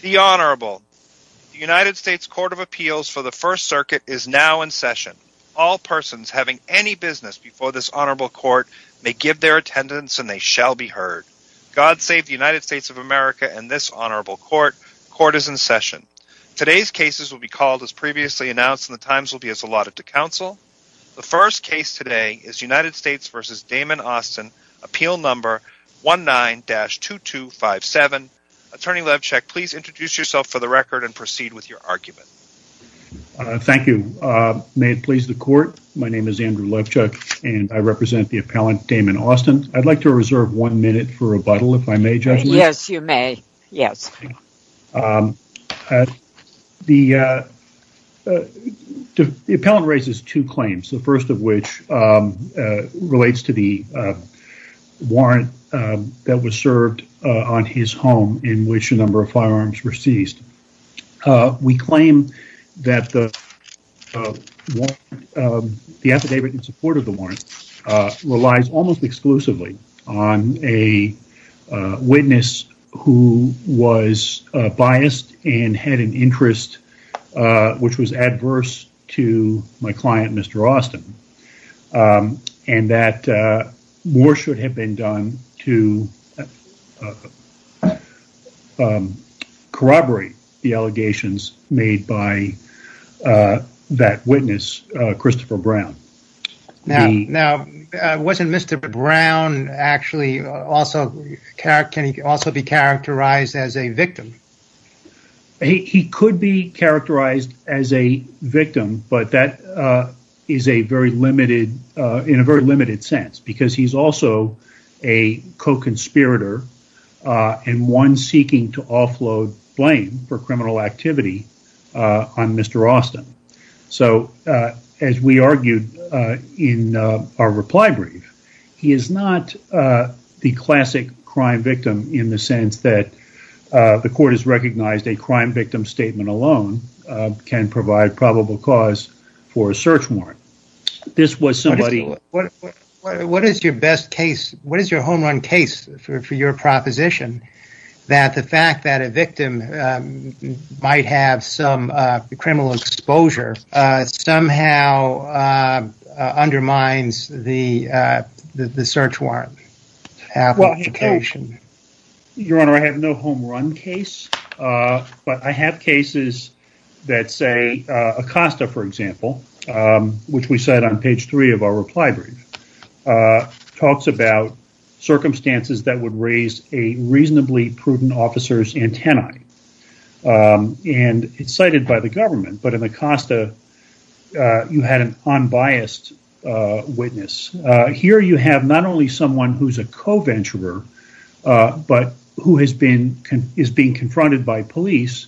The Honorable. The United States Court of Appeals for the First Circuit is now in session. All persons having any business before this Honorable Court may give their attendance and they shall be heard. God save the United States of America and this Honorable Court. Court is in session. Today's cases will be called as previously announced and the times will be allotted to counsel. The first case today is United States v. Damon Austin, appeal number 19-2257. Attorney Levchuk, please introduce yourself for the record and proceed with your argument. Thank you. May it please the court, my name is Andrew Levchuk and I represent the appellant Damon Austin. I'd like to reserve one minute for rebuttal if I may, Judge. Yes, you may. Yes. The appellant raises two claims, the first of which relates to the warrant that was served on his home in which a number of firearms were seized. We claim that the affidavit in support of the warrant relies almost exclusively on a witness who was biased and had an interest which was adverse to my client, Mr. Austin. And that more should have been done to corroborate the allegations made by that witness, Christopher Brown. Now, wasn't Mr. Brown actually also characterized as a victim? He could be characterized as a victim, but that is in a very limited sense because he's also a co-conspirator and one seeking to offload blame for criminal activity on Mr. Austin. So, as we argued in our reply brief, he is not the classic crime victim in the sense that the court has recognized a crime victim statement alone can provide probable cause for a search warrant. What is your best case, what is your home run case for your proposition that the fact that a victim might have some criminal exposure somehow undermines the search warrant application? Your Honor, I have no home run case, but I have cases that say Acosta, for example, which we cite on page three of our reply brief, talks about circumstances that would raise a reasonably prudent officer's antennae. And it's cited by the government, but in Acosta, you had an unbiased witness. Here you have not only someone who's a co-venturer, but who is being confronted by police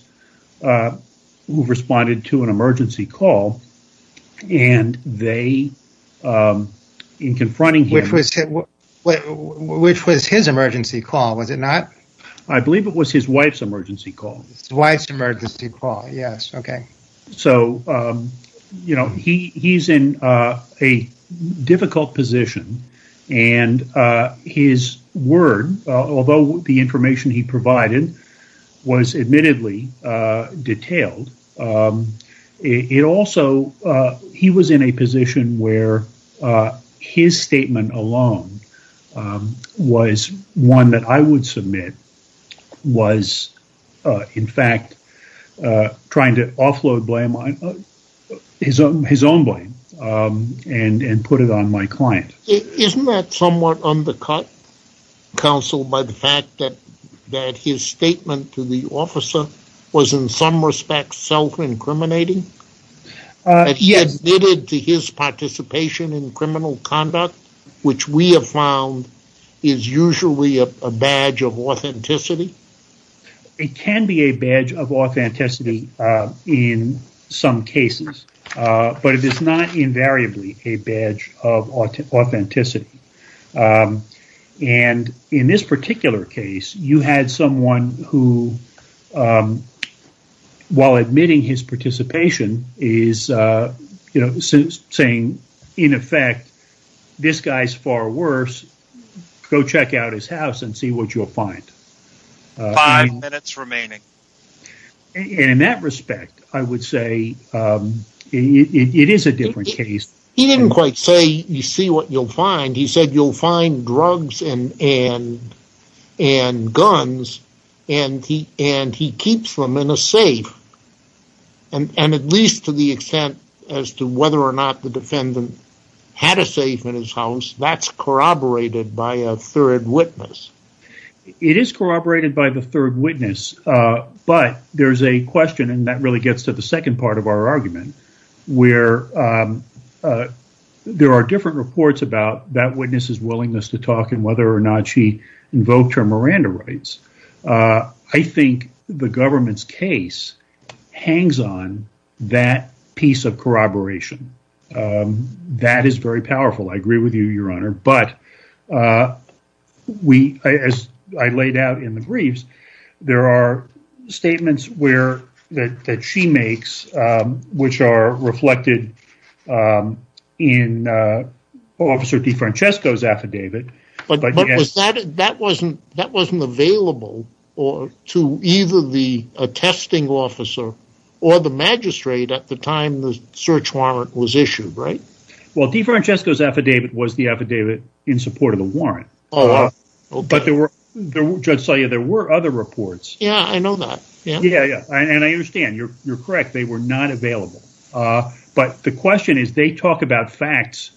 who responded to an emergency call and they, in confronting him... Which was his emergency call, was it not? I believe it was his wife's emergency call. His wife's emergency call, yes, okay. Was, in fact, trying to offload his own blame and put it on my client. Isn't that somewhat undercut, counsel, by the fact that his statement to the officer was, in some respects, self-incriminating? That he admitted to his participation in criminal conduct, which we have found is usually a badge of authenticity? It can be a badge of authenticity in some cases, but it is not invariably a badge of authenticity. And in this particular case, you had someone who, while admitting his participation, is saying, in effect, this guy's far worse, go check out his house and see what you'll find. Five minutes remaining. And in that respect, I would say it is a different case. He didn't quite say, you see what you'll find, he said you'll find drugs and guns and he keeps them in a safe. And at least to the extent as to whether or not the defendant had a safe in his house, that's corroborated by a third witness. It is corroborated by the third witness, but there's a question, and that really gets to the second part of our argument. Where there are different reports about that witness's willingness to talk and whether or not she invoked her Miranda rights. I think the government's case hangs on that piece of corroboration. That is very powerful, I agree with you, Your Honor. But as I laid out in the briefs, there are statements that she makes which are reflected in Officer DeFrancesco's affidavit. But that wasn't available to either the attesting officer or the magistrate at the time the search warrant was issued, right? Well, DeFrancesco's affidavit was the affidavit in support of the warrant. But Judge Salyer, there were other reports. Yeah, I know that. And I understand, you're correct, they were not available. But the question is, they talk about facts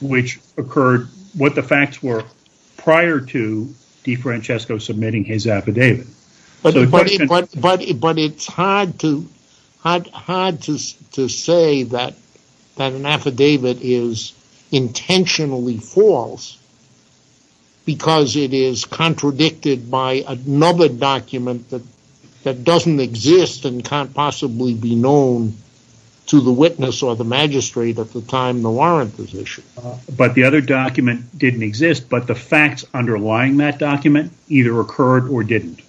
which occurred, what the facts were prior to DeFrancesco submitting his affidavit. But it's hard to say that an affidavit is intentionally false because it is contradicted by another document that doesn't exist and can't possibly be known to the witness or the magistrate at the time the warrant was issued. But the other document didn't exist, but the facts underlying that document either occurred or didn't.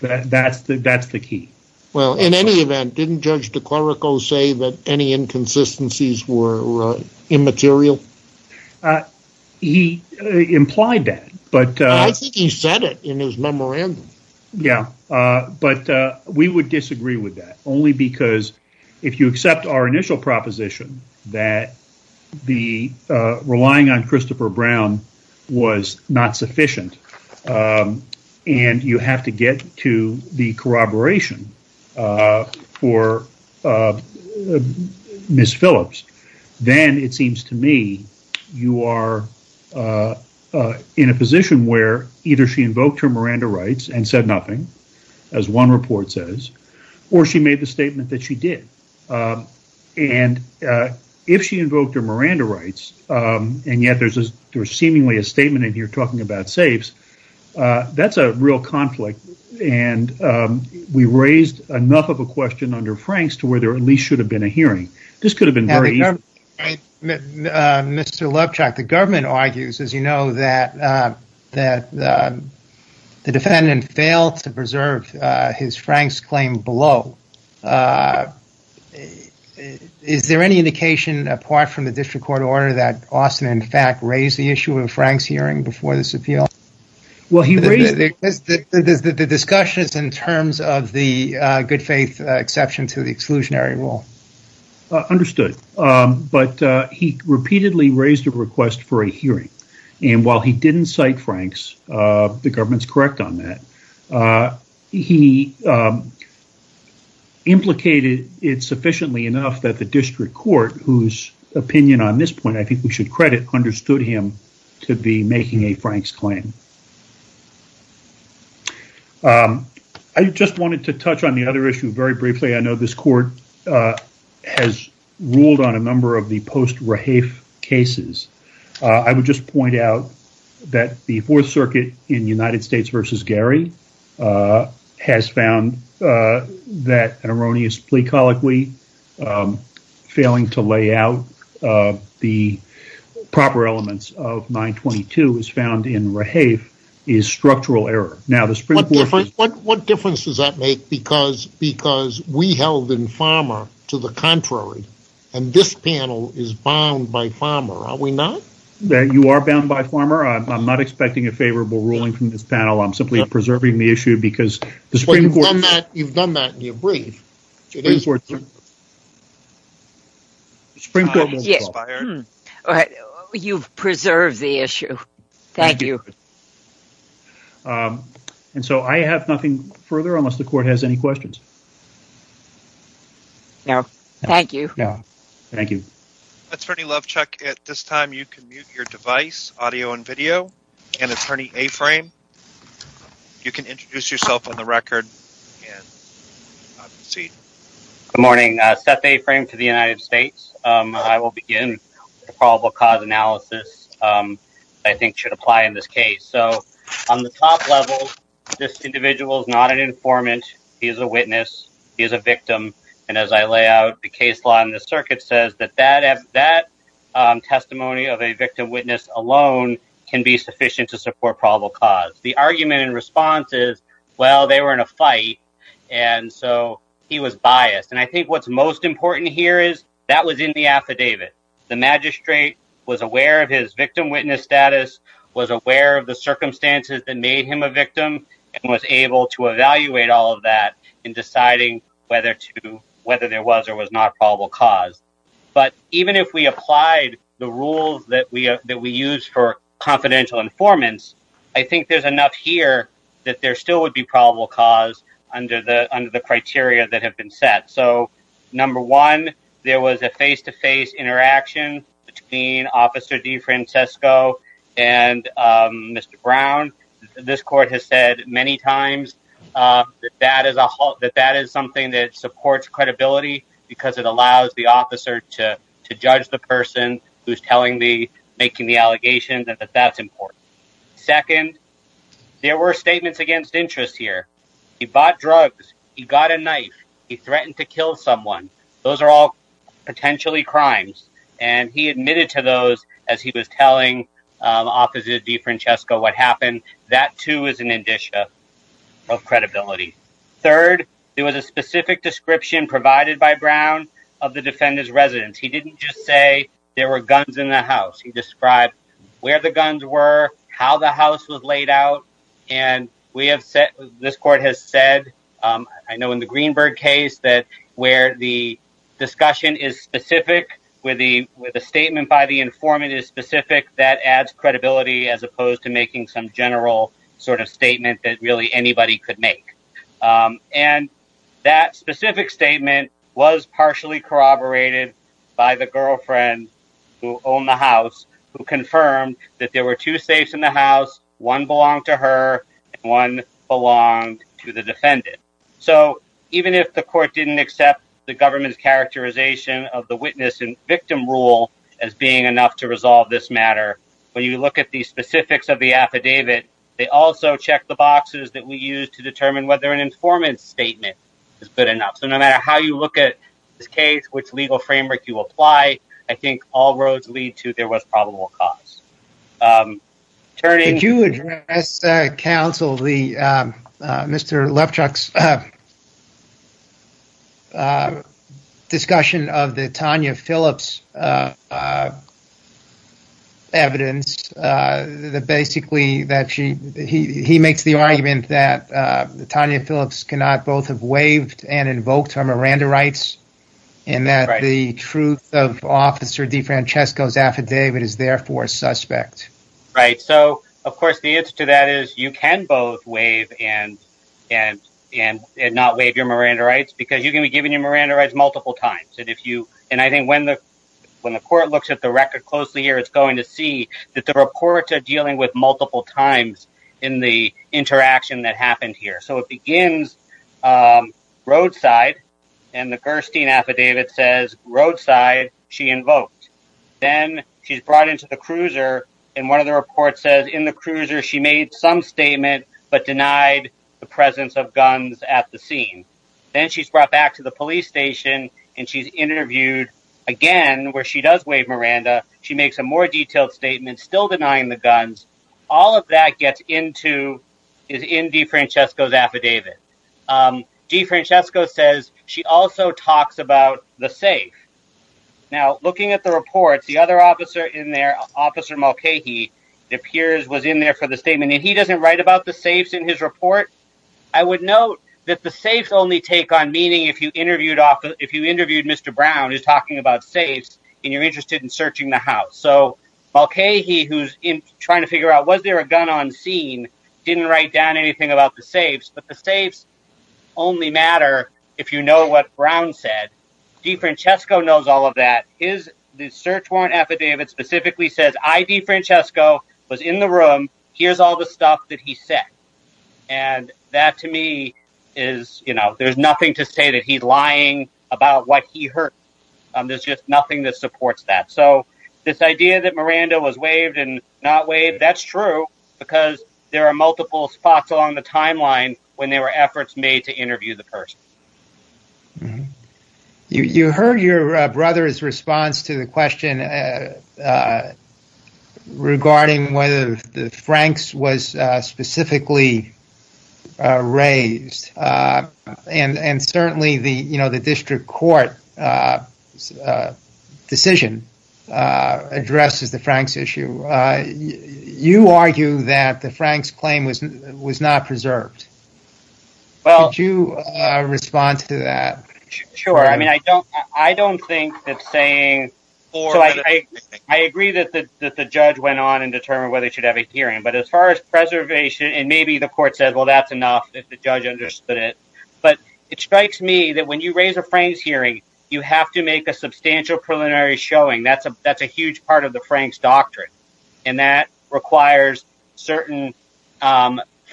That's the key. Well, in any event, didn't Judge DeClerico say that any inconsistencies were immaterial? He implied that. I think he said it in his memorandum. Yeah, but we would disagree with that only because if you accept our initial proposition that relying on Christopher Brown was not sufficient and you have to get to the corroboration for Ms. Phillips, then it seems to me you are in a position where either she invoked her Miranda rights and said nothing, as one report says, or she made the statement that she did. And if she invoked her Miranda rights, and yet there's seemingly a statement in here talking about safes, that's a real conflict. And we raised enough of a question under Frank's to where there at least should have been a hearing. Mr. Lubchock, the government argues, as you know, that the defendant failed to preserve his Frank's claim below. Is there any indication apart from the district court order that Austin, in fact, raised the issue of Frank's hearing before this appeal? The discussion is in terms of the good faith exception to the exclusionary rule. Understood. But he repeatedly raised a request for a hearing. And while he didn't cite Frank's, the government's correct on that. He implicated it sufficiently enough that the district court, whose opinion on this point, I think we should credit, understood him to be making a Frank's claim. I just wanted to touch on the other issue very briefly. I know this court has ruled on a number of the post-Raheif cases. I would just point out that the Fourth Circuit in United States v. Gary has found that an erroneous plea colloquy, failing to lay out the proper elements of 922, is found in Raheif is structural error. What difference does that make because we held in Farmer to the contrary and this panel is bound by Farmer. Are we not? You are bound by Farmer. I'm not expecting a favorable ruling from this panel. I'm simply preserving the issue because the Supreme Court… You've done that in your brief. You've preserved the issue. Thank you. And so I have nothing further unless the court has any questions. No, thank you. Thank you. Attorney Lovechuck, at this time you can mute your device, audio and video. And Attorney A-Frame, you can introduce yourself on the record. Good morning. Seth A-Frame to the United States. I will begin the probable cause analysis I think should apply in this case. So on the top level, this individual is not an informant. He is a witness. He is a victim. And as I lay out, the case law in the circuit says that that testimony of a victim witness alone can be sufficient to support probable cause. The argument in response is, well, they were in a fight and so he was biased. And I think what's most important here is that was in the affidavit. The magistrate was aware of his victim witness status, was aware of the circumstances that made him a victim, and was able to evaluate all of that in deciding whether there was or was not probable cause. But even if we applied the rules that we use for confidential informants, I think there's enough here that there still would be probable cause under the criteria that have been set. So number one, there was a face-to-face interaction between Officer DeFrancisco and Mr. Brown. This court has said many times that that is something that supports credibility because it allows the officer to judge the person who's making the allegations and that that's important. Second, there were statements against interest here. He bought drugs. He got a knife. He threatened to kill someone. Those are all potentially crimes. And he admitted to those as he was telling Officer DeFrancisco what happened. That, too, is an indicia of credibility. Third, there was a specific description provided by Brown of the defendant's residence. He didn't just say there were guns in the house. He described where the guns were, how the house was laid out. And this court has said, I know in the Greenberg case, that where the discussion is specific, where the statement by the informant is specific, that adds credibility as opposed to making some general sort of statement that really anybody could make. And that specific statement was partially corroborated by the girlfriend who owned the house, who confirmed that there were two safes in the house. One belonged to her. One belonged to the defendant. So even if the court didn't accept the government's characterization of the witness and victim rule as being enough to resolve this matter, when you look at the specifics of the affidavit, they also check the boxes that we use to determine whether an informant's statement is good enough. So no matter how you look at this case, which legal framework you apply, I think all roads lead to there was probable cause. Could you address, counsel, Mr. Lepchuk's discussion of the Tanya Phillips evidence? He makes the argument that Tanya Phillips cannot both have waived and invoked her Miranda rights, and that the truth of Officer DeFrancesco's affidavit is therefore suspect. Right. So, of course, the answer to that is you can both waive and not waive your Miranda rights, because you can be given your Miranda rights multiple times. And I think when the court looks at the record closely here, it's going to see that the reports are dealing with multiple times in the interaction that happened here. So it begins roadside, and the Gerstein affidavit says roadside, she invoked. Then she's brought into the cruiser, and one of the reports says in the cruiser she made some statement but denied the presence of guns at the scene. Then she's brought back to the police station, and she's interviewed again where she does waive Miranda. She makes a more detailed statement, still denying the guns. All of that gets into, is in DeFrancesco's affidavit. DeFrancesco says she also talks about the safe. Now, looking at the reports, the other officer in there, Officer Mulcahy, it appears was in there for the statement, and he doesn't write about the safes in his report. I would note that the safes only take on meaning if you interviewed Mr. Brown, who's talking about safes, and you're interested in searching the house. So Mulcahy, who's trying to figure out was there a gun on scene, didn't write down anything about the safes. But the safes only matter if you know what Brown said. DeFrancesco knows all of that. The search warrant affidavit specifically says, I, DeFrancesco, was in the room. Here's all the stuff that he said, and that to me is, you know, there's nothing to say that he's lying about what he heard. There's just nothing that supports that. So this idea that Miranda was waived and not waived, that's true because there are multiple spots along the timeline when there were efforts made to interview the person. You heard your brother's response to the question regarding whether the Franks was specifically raised, and certainly the district court decision addresses the Franks issue. You argue that the Franks claim was not preserved. Could you respond to that? Sure. I mean, I don't think that saying, so I agree that the judge went on and determined whether he should have a hearing. But as far as preservation, and maybe the court said, well, that's enough if the judge understood it. But it strikes me that when you raise a Franks hearing, you have to make a substantial preliminary showing. That's a huge part of the Franks doctrine. And that requires certain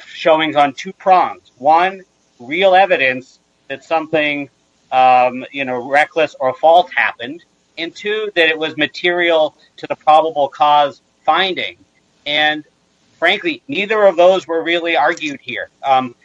showings on two prongs. One, real evidence that something, you know, reckless or false happened. And two, that it was material to the probable cause finding. And frankly, neither of those were really argued here.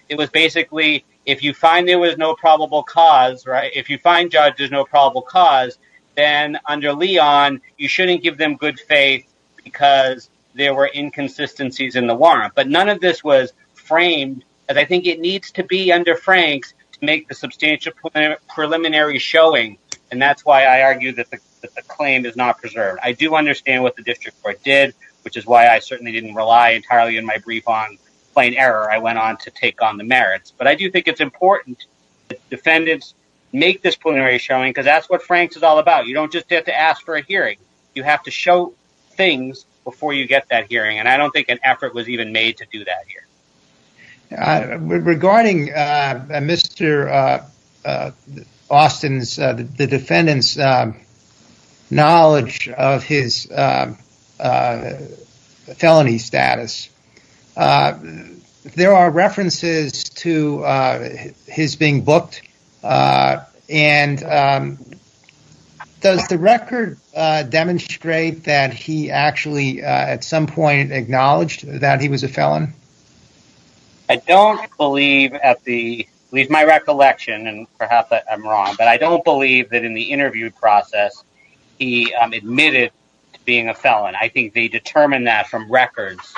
It was basically, if you find there was no probable cause, right? If you find judges no probable cause, then under Leon, you shouldn't give them good faith because there were inconsistencies in the warrant. But none of this was framed. And I think it needs to be under Franks to make the substantial preliminary showing. And that's why I argue that the claim is not preserved. I do understand what the district court did, which is why I certainly didn't rely entirely in my brief on plain error. I went on to take on the merits. But I do think it's important that defendants make this preliminary showing because that's what Franks is all about. You don't just have to ask for a hearing. You have to show things before you get that hearing. And I don't think an effort was even made to do that here. Regarding Mr. Austin's, the defendant's, knowledge of his felony status, there are references to his being booked. And does the record demonstrate that he actually at some point acknowledged that he was a felon? I don't believe, at least my recollection, and perhaps I'm wrong, but I don't believe that in the interview process he admitted to being a felon. I think they determined that from records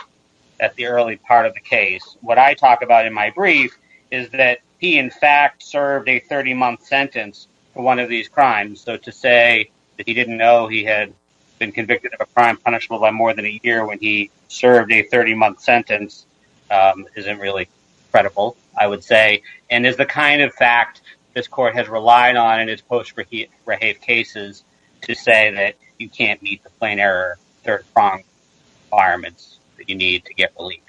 at the early part of the case. What I talk about in my brief is that he, in fact, served a 30-month sentence for one of these crimes. So to say that he didn't know he had been convicted of a crime punishable by more than a year when he served a 30-month sentence isn't really credible, I would say. And it's the kind of fact this court has relied on in its post-Rahafe cases to say that you can't meet the plain error. There are requirements that you need to get relief.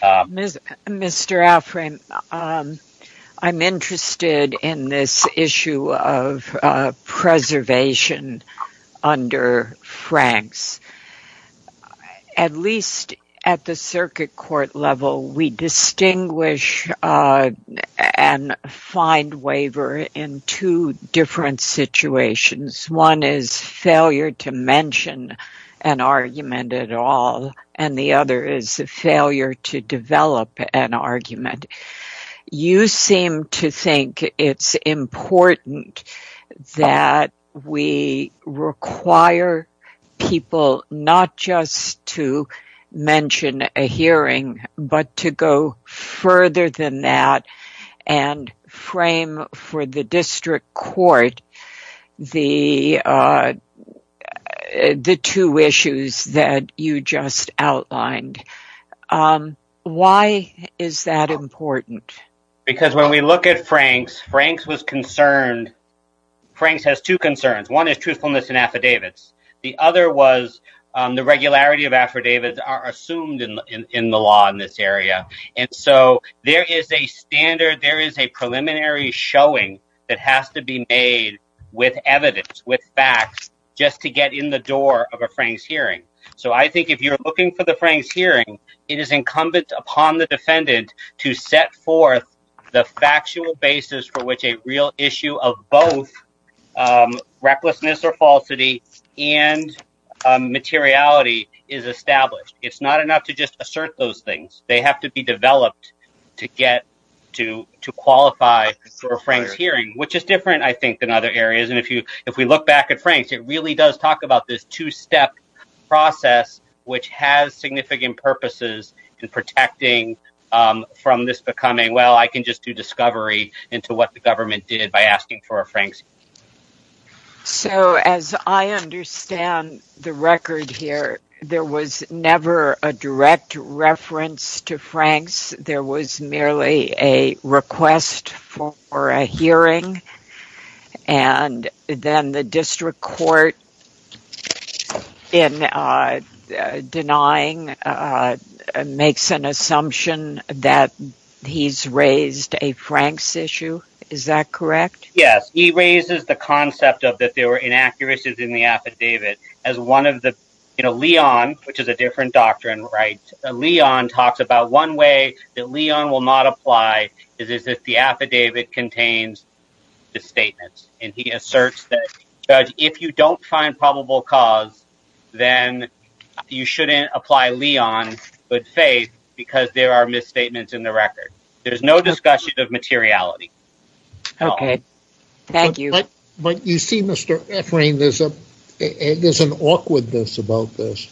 Mr. Alframe, I'm interested in this issue of preservation under Franks. At least at the circuit court level, we distinguish and find waiver in two different situations. One is failure to mention an argument at all, and the other is failure to develop an argument. You seem to think it's important that we require people not just to mention a hearing but to go further than that and frame for the district court the two issues that you just outlined. Why is that important? Because when we look at Franks, Franks has two concerns. One is truthfulness in affidavits. The other was the regularity of affidavits assumed in the law in this area. And so there is a standard, there is a preliminary showing that has to be made with evidence, with facts, just to get in the door of a Franks hearing. So I think if you're looking for the Franks hearing, it is incumbent upon the defendant to set forth the factual basis for which a real issue of both recklessness or falsity and materiality is established. It's not enough to just assert those things. They have to be developed to get to qualify for a Franks hearing, which is different, I think, than other areas. And if we look back at Franks, it really does talk about this two-step process, which has significant purposes in protecting from this becoming, well, I can just do discovery into what the government did by asking for a Franks hearing. So as I understand the record here, there was never a direct reference to Franks. There was merely a request for a hearing, and then the district court in denying makes an assumption that he's raised a Franks issue. Is that correct? Yes. He raises the concept of that there were inaccuracies in the affidavit. Leon, which is a different doctrine, talks about one way that Leon will not apply is if the affidavit contains misstatements. And he asserts that if you don't find probable cause, then you shouldn't apply Leon good faith because there are misstatements in the record. There's no discussion of materiality. Okay. Thank you. But you see, Mr. Efrain, there's an awkwardness about this.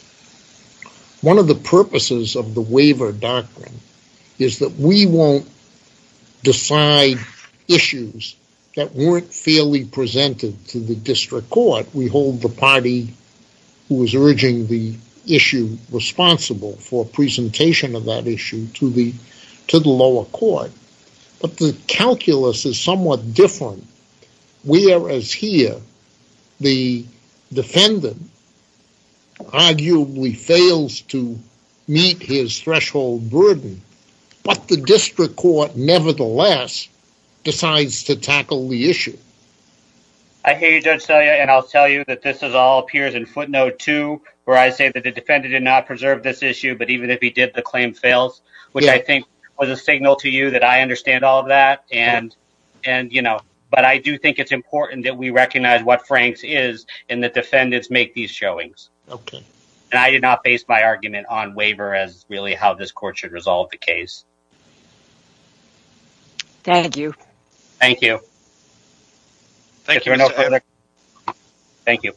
One of the purposes of the waiver doctrine is that we won't decide issues that weren't fairly presented to the district court. We hold the party who is urging the issue responsible for presentation of that issue to the lower court. But the calculus is somewhat different. Whereas here, the defendant arguably fails to meet his threshold burden, but the district court nevertheless decides to tackle the issue. I hear you, Judge Selya, and I'll tell you that this all appears in footnote two where I say that the defendant did not preserve this issue, but even if he did, the claim fails, which I think was a signal to you that I understand all of that. But I do think it's important that we recognize what Frank's is and that defendants make these showings. Okay. And I did not base my argument on waiver as really how this court should resolve the case. Thank you. Thank you. Thank you. Thank you.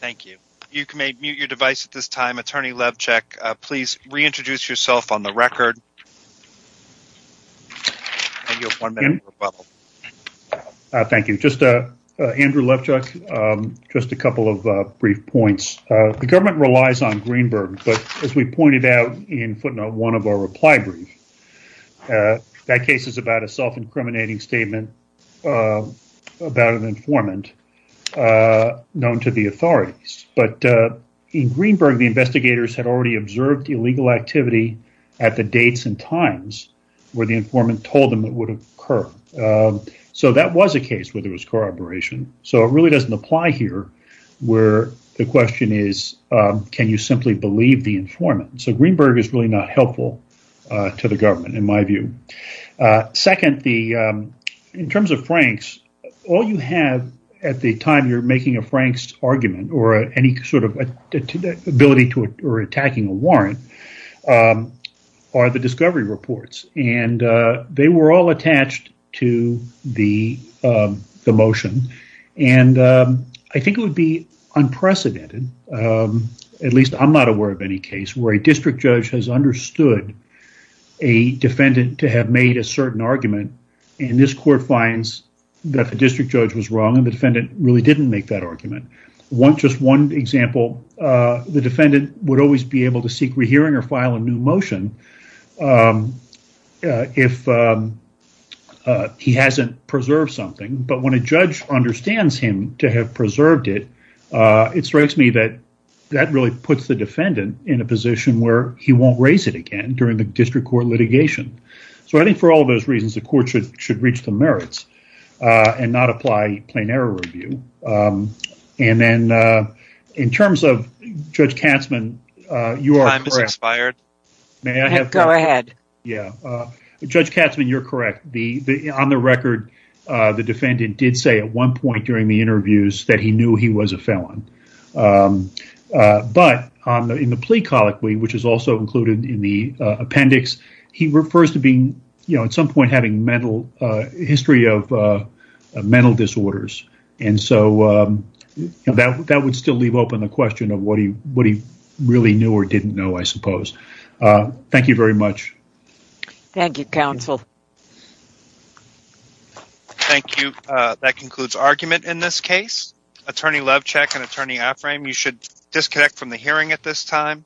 Thank you. You can mute your device at this time. Attorney Levchak, please reintroduce yourself on the record. Thank you. Andrew Levchak, just a couple of brief points. The government relies on Greenberg, but as we pointed out in footnote one of our reply brief, that case is about a self-incriminating statement about an informant known to the authorities. But in Greenberg, the investigators had already observed illegal activity at the dates and times where the informant told them it would occur. So that was a case where there was corroboration. So it really doesn't apply here where the question is, can you simply believe the informant? So Greenberg is really not helpful to the government in my view. Second, in terms of Frank's, all you have at the time you're making a Frank's argument or any sort of ability or attacking a warrant are the discovery reports. And they were all attached to the motion. And I think it would be unprecedented, at least I'm not aware of any case where a district judge has understood a defendant to have made a certain argument. And this court finds that the district judge was wrong and the defendant really didn't make that argument. Just one example, the defendant would always be able to seek rehearing or file a new motion if he hasn't preserved something. But when a judge understands him to have preserved it, it strikes me that that really puts the defendant in a position where he won't raise it again during the district court litigation. So I think for all of those reasons, the court should reach the merits and not apply plain error review. And then in terms of Judge Katzman, you are correct. Judge Katzman, you're correct. On the record, the defendant did say at one point during the interviews that he knew he was a felon. But in the plea colloquy, which is also included in the appendix, he refers to being at some point having a history of mental disorders. And so that would still leave open the question of what he really knew or didn't know, I suppose. Thank you very much. Thank you, counsel. Thank you. That concludes argument in this case. Attorney Lovecheck and Attorney Afframe, you should disconnect from the hearing at this time.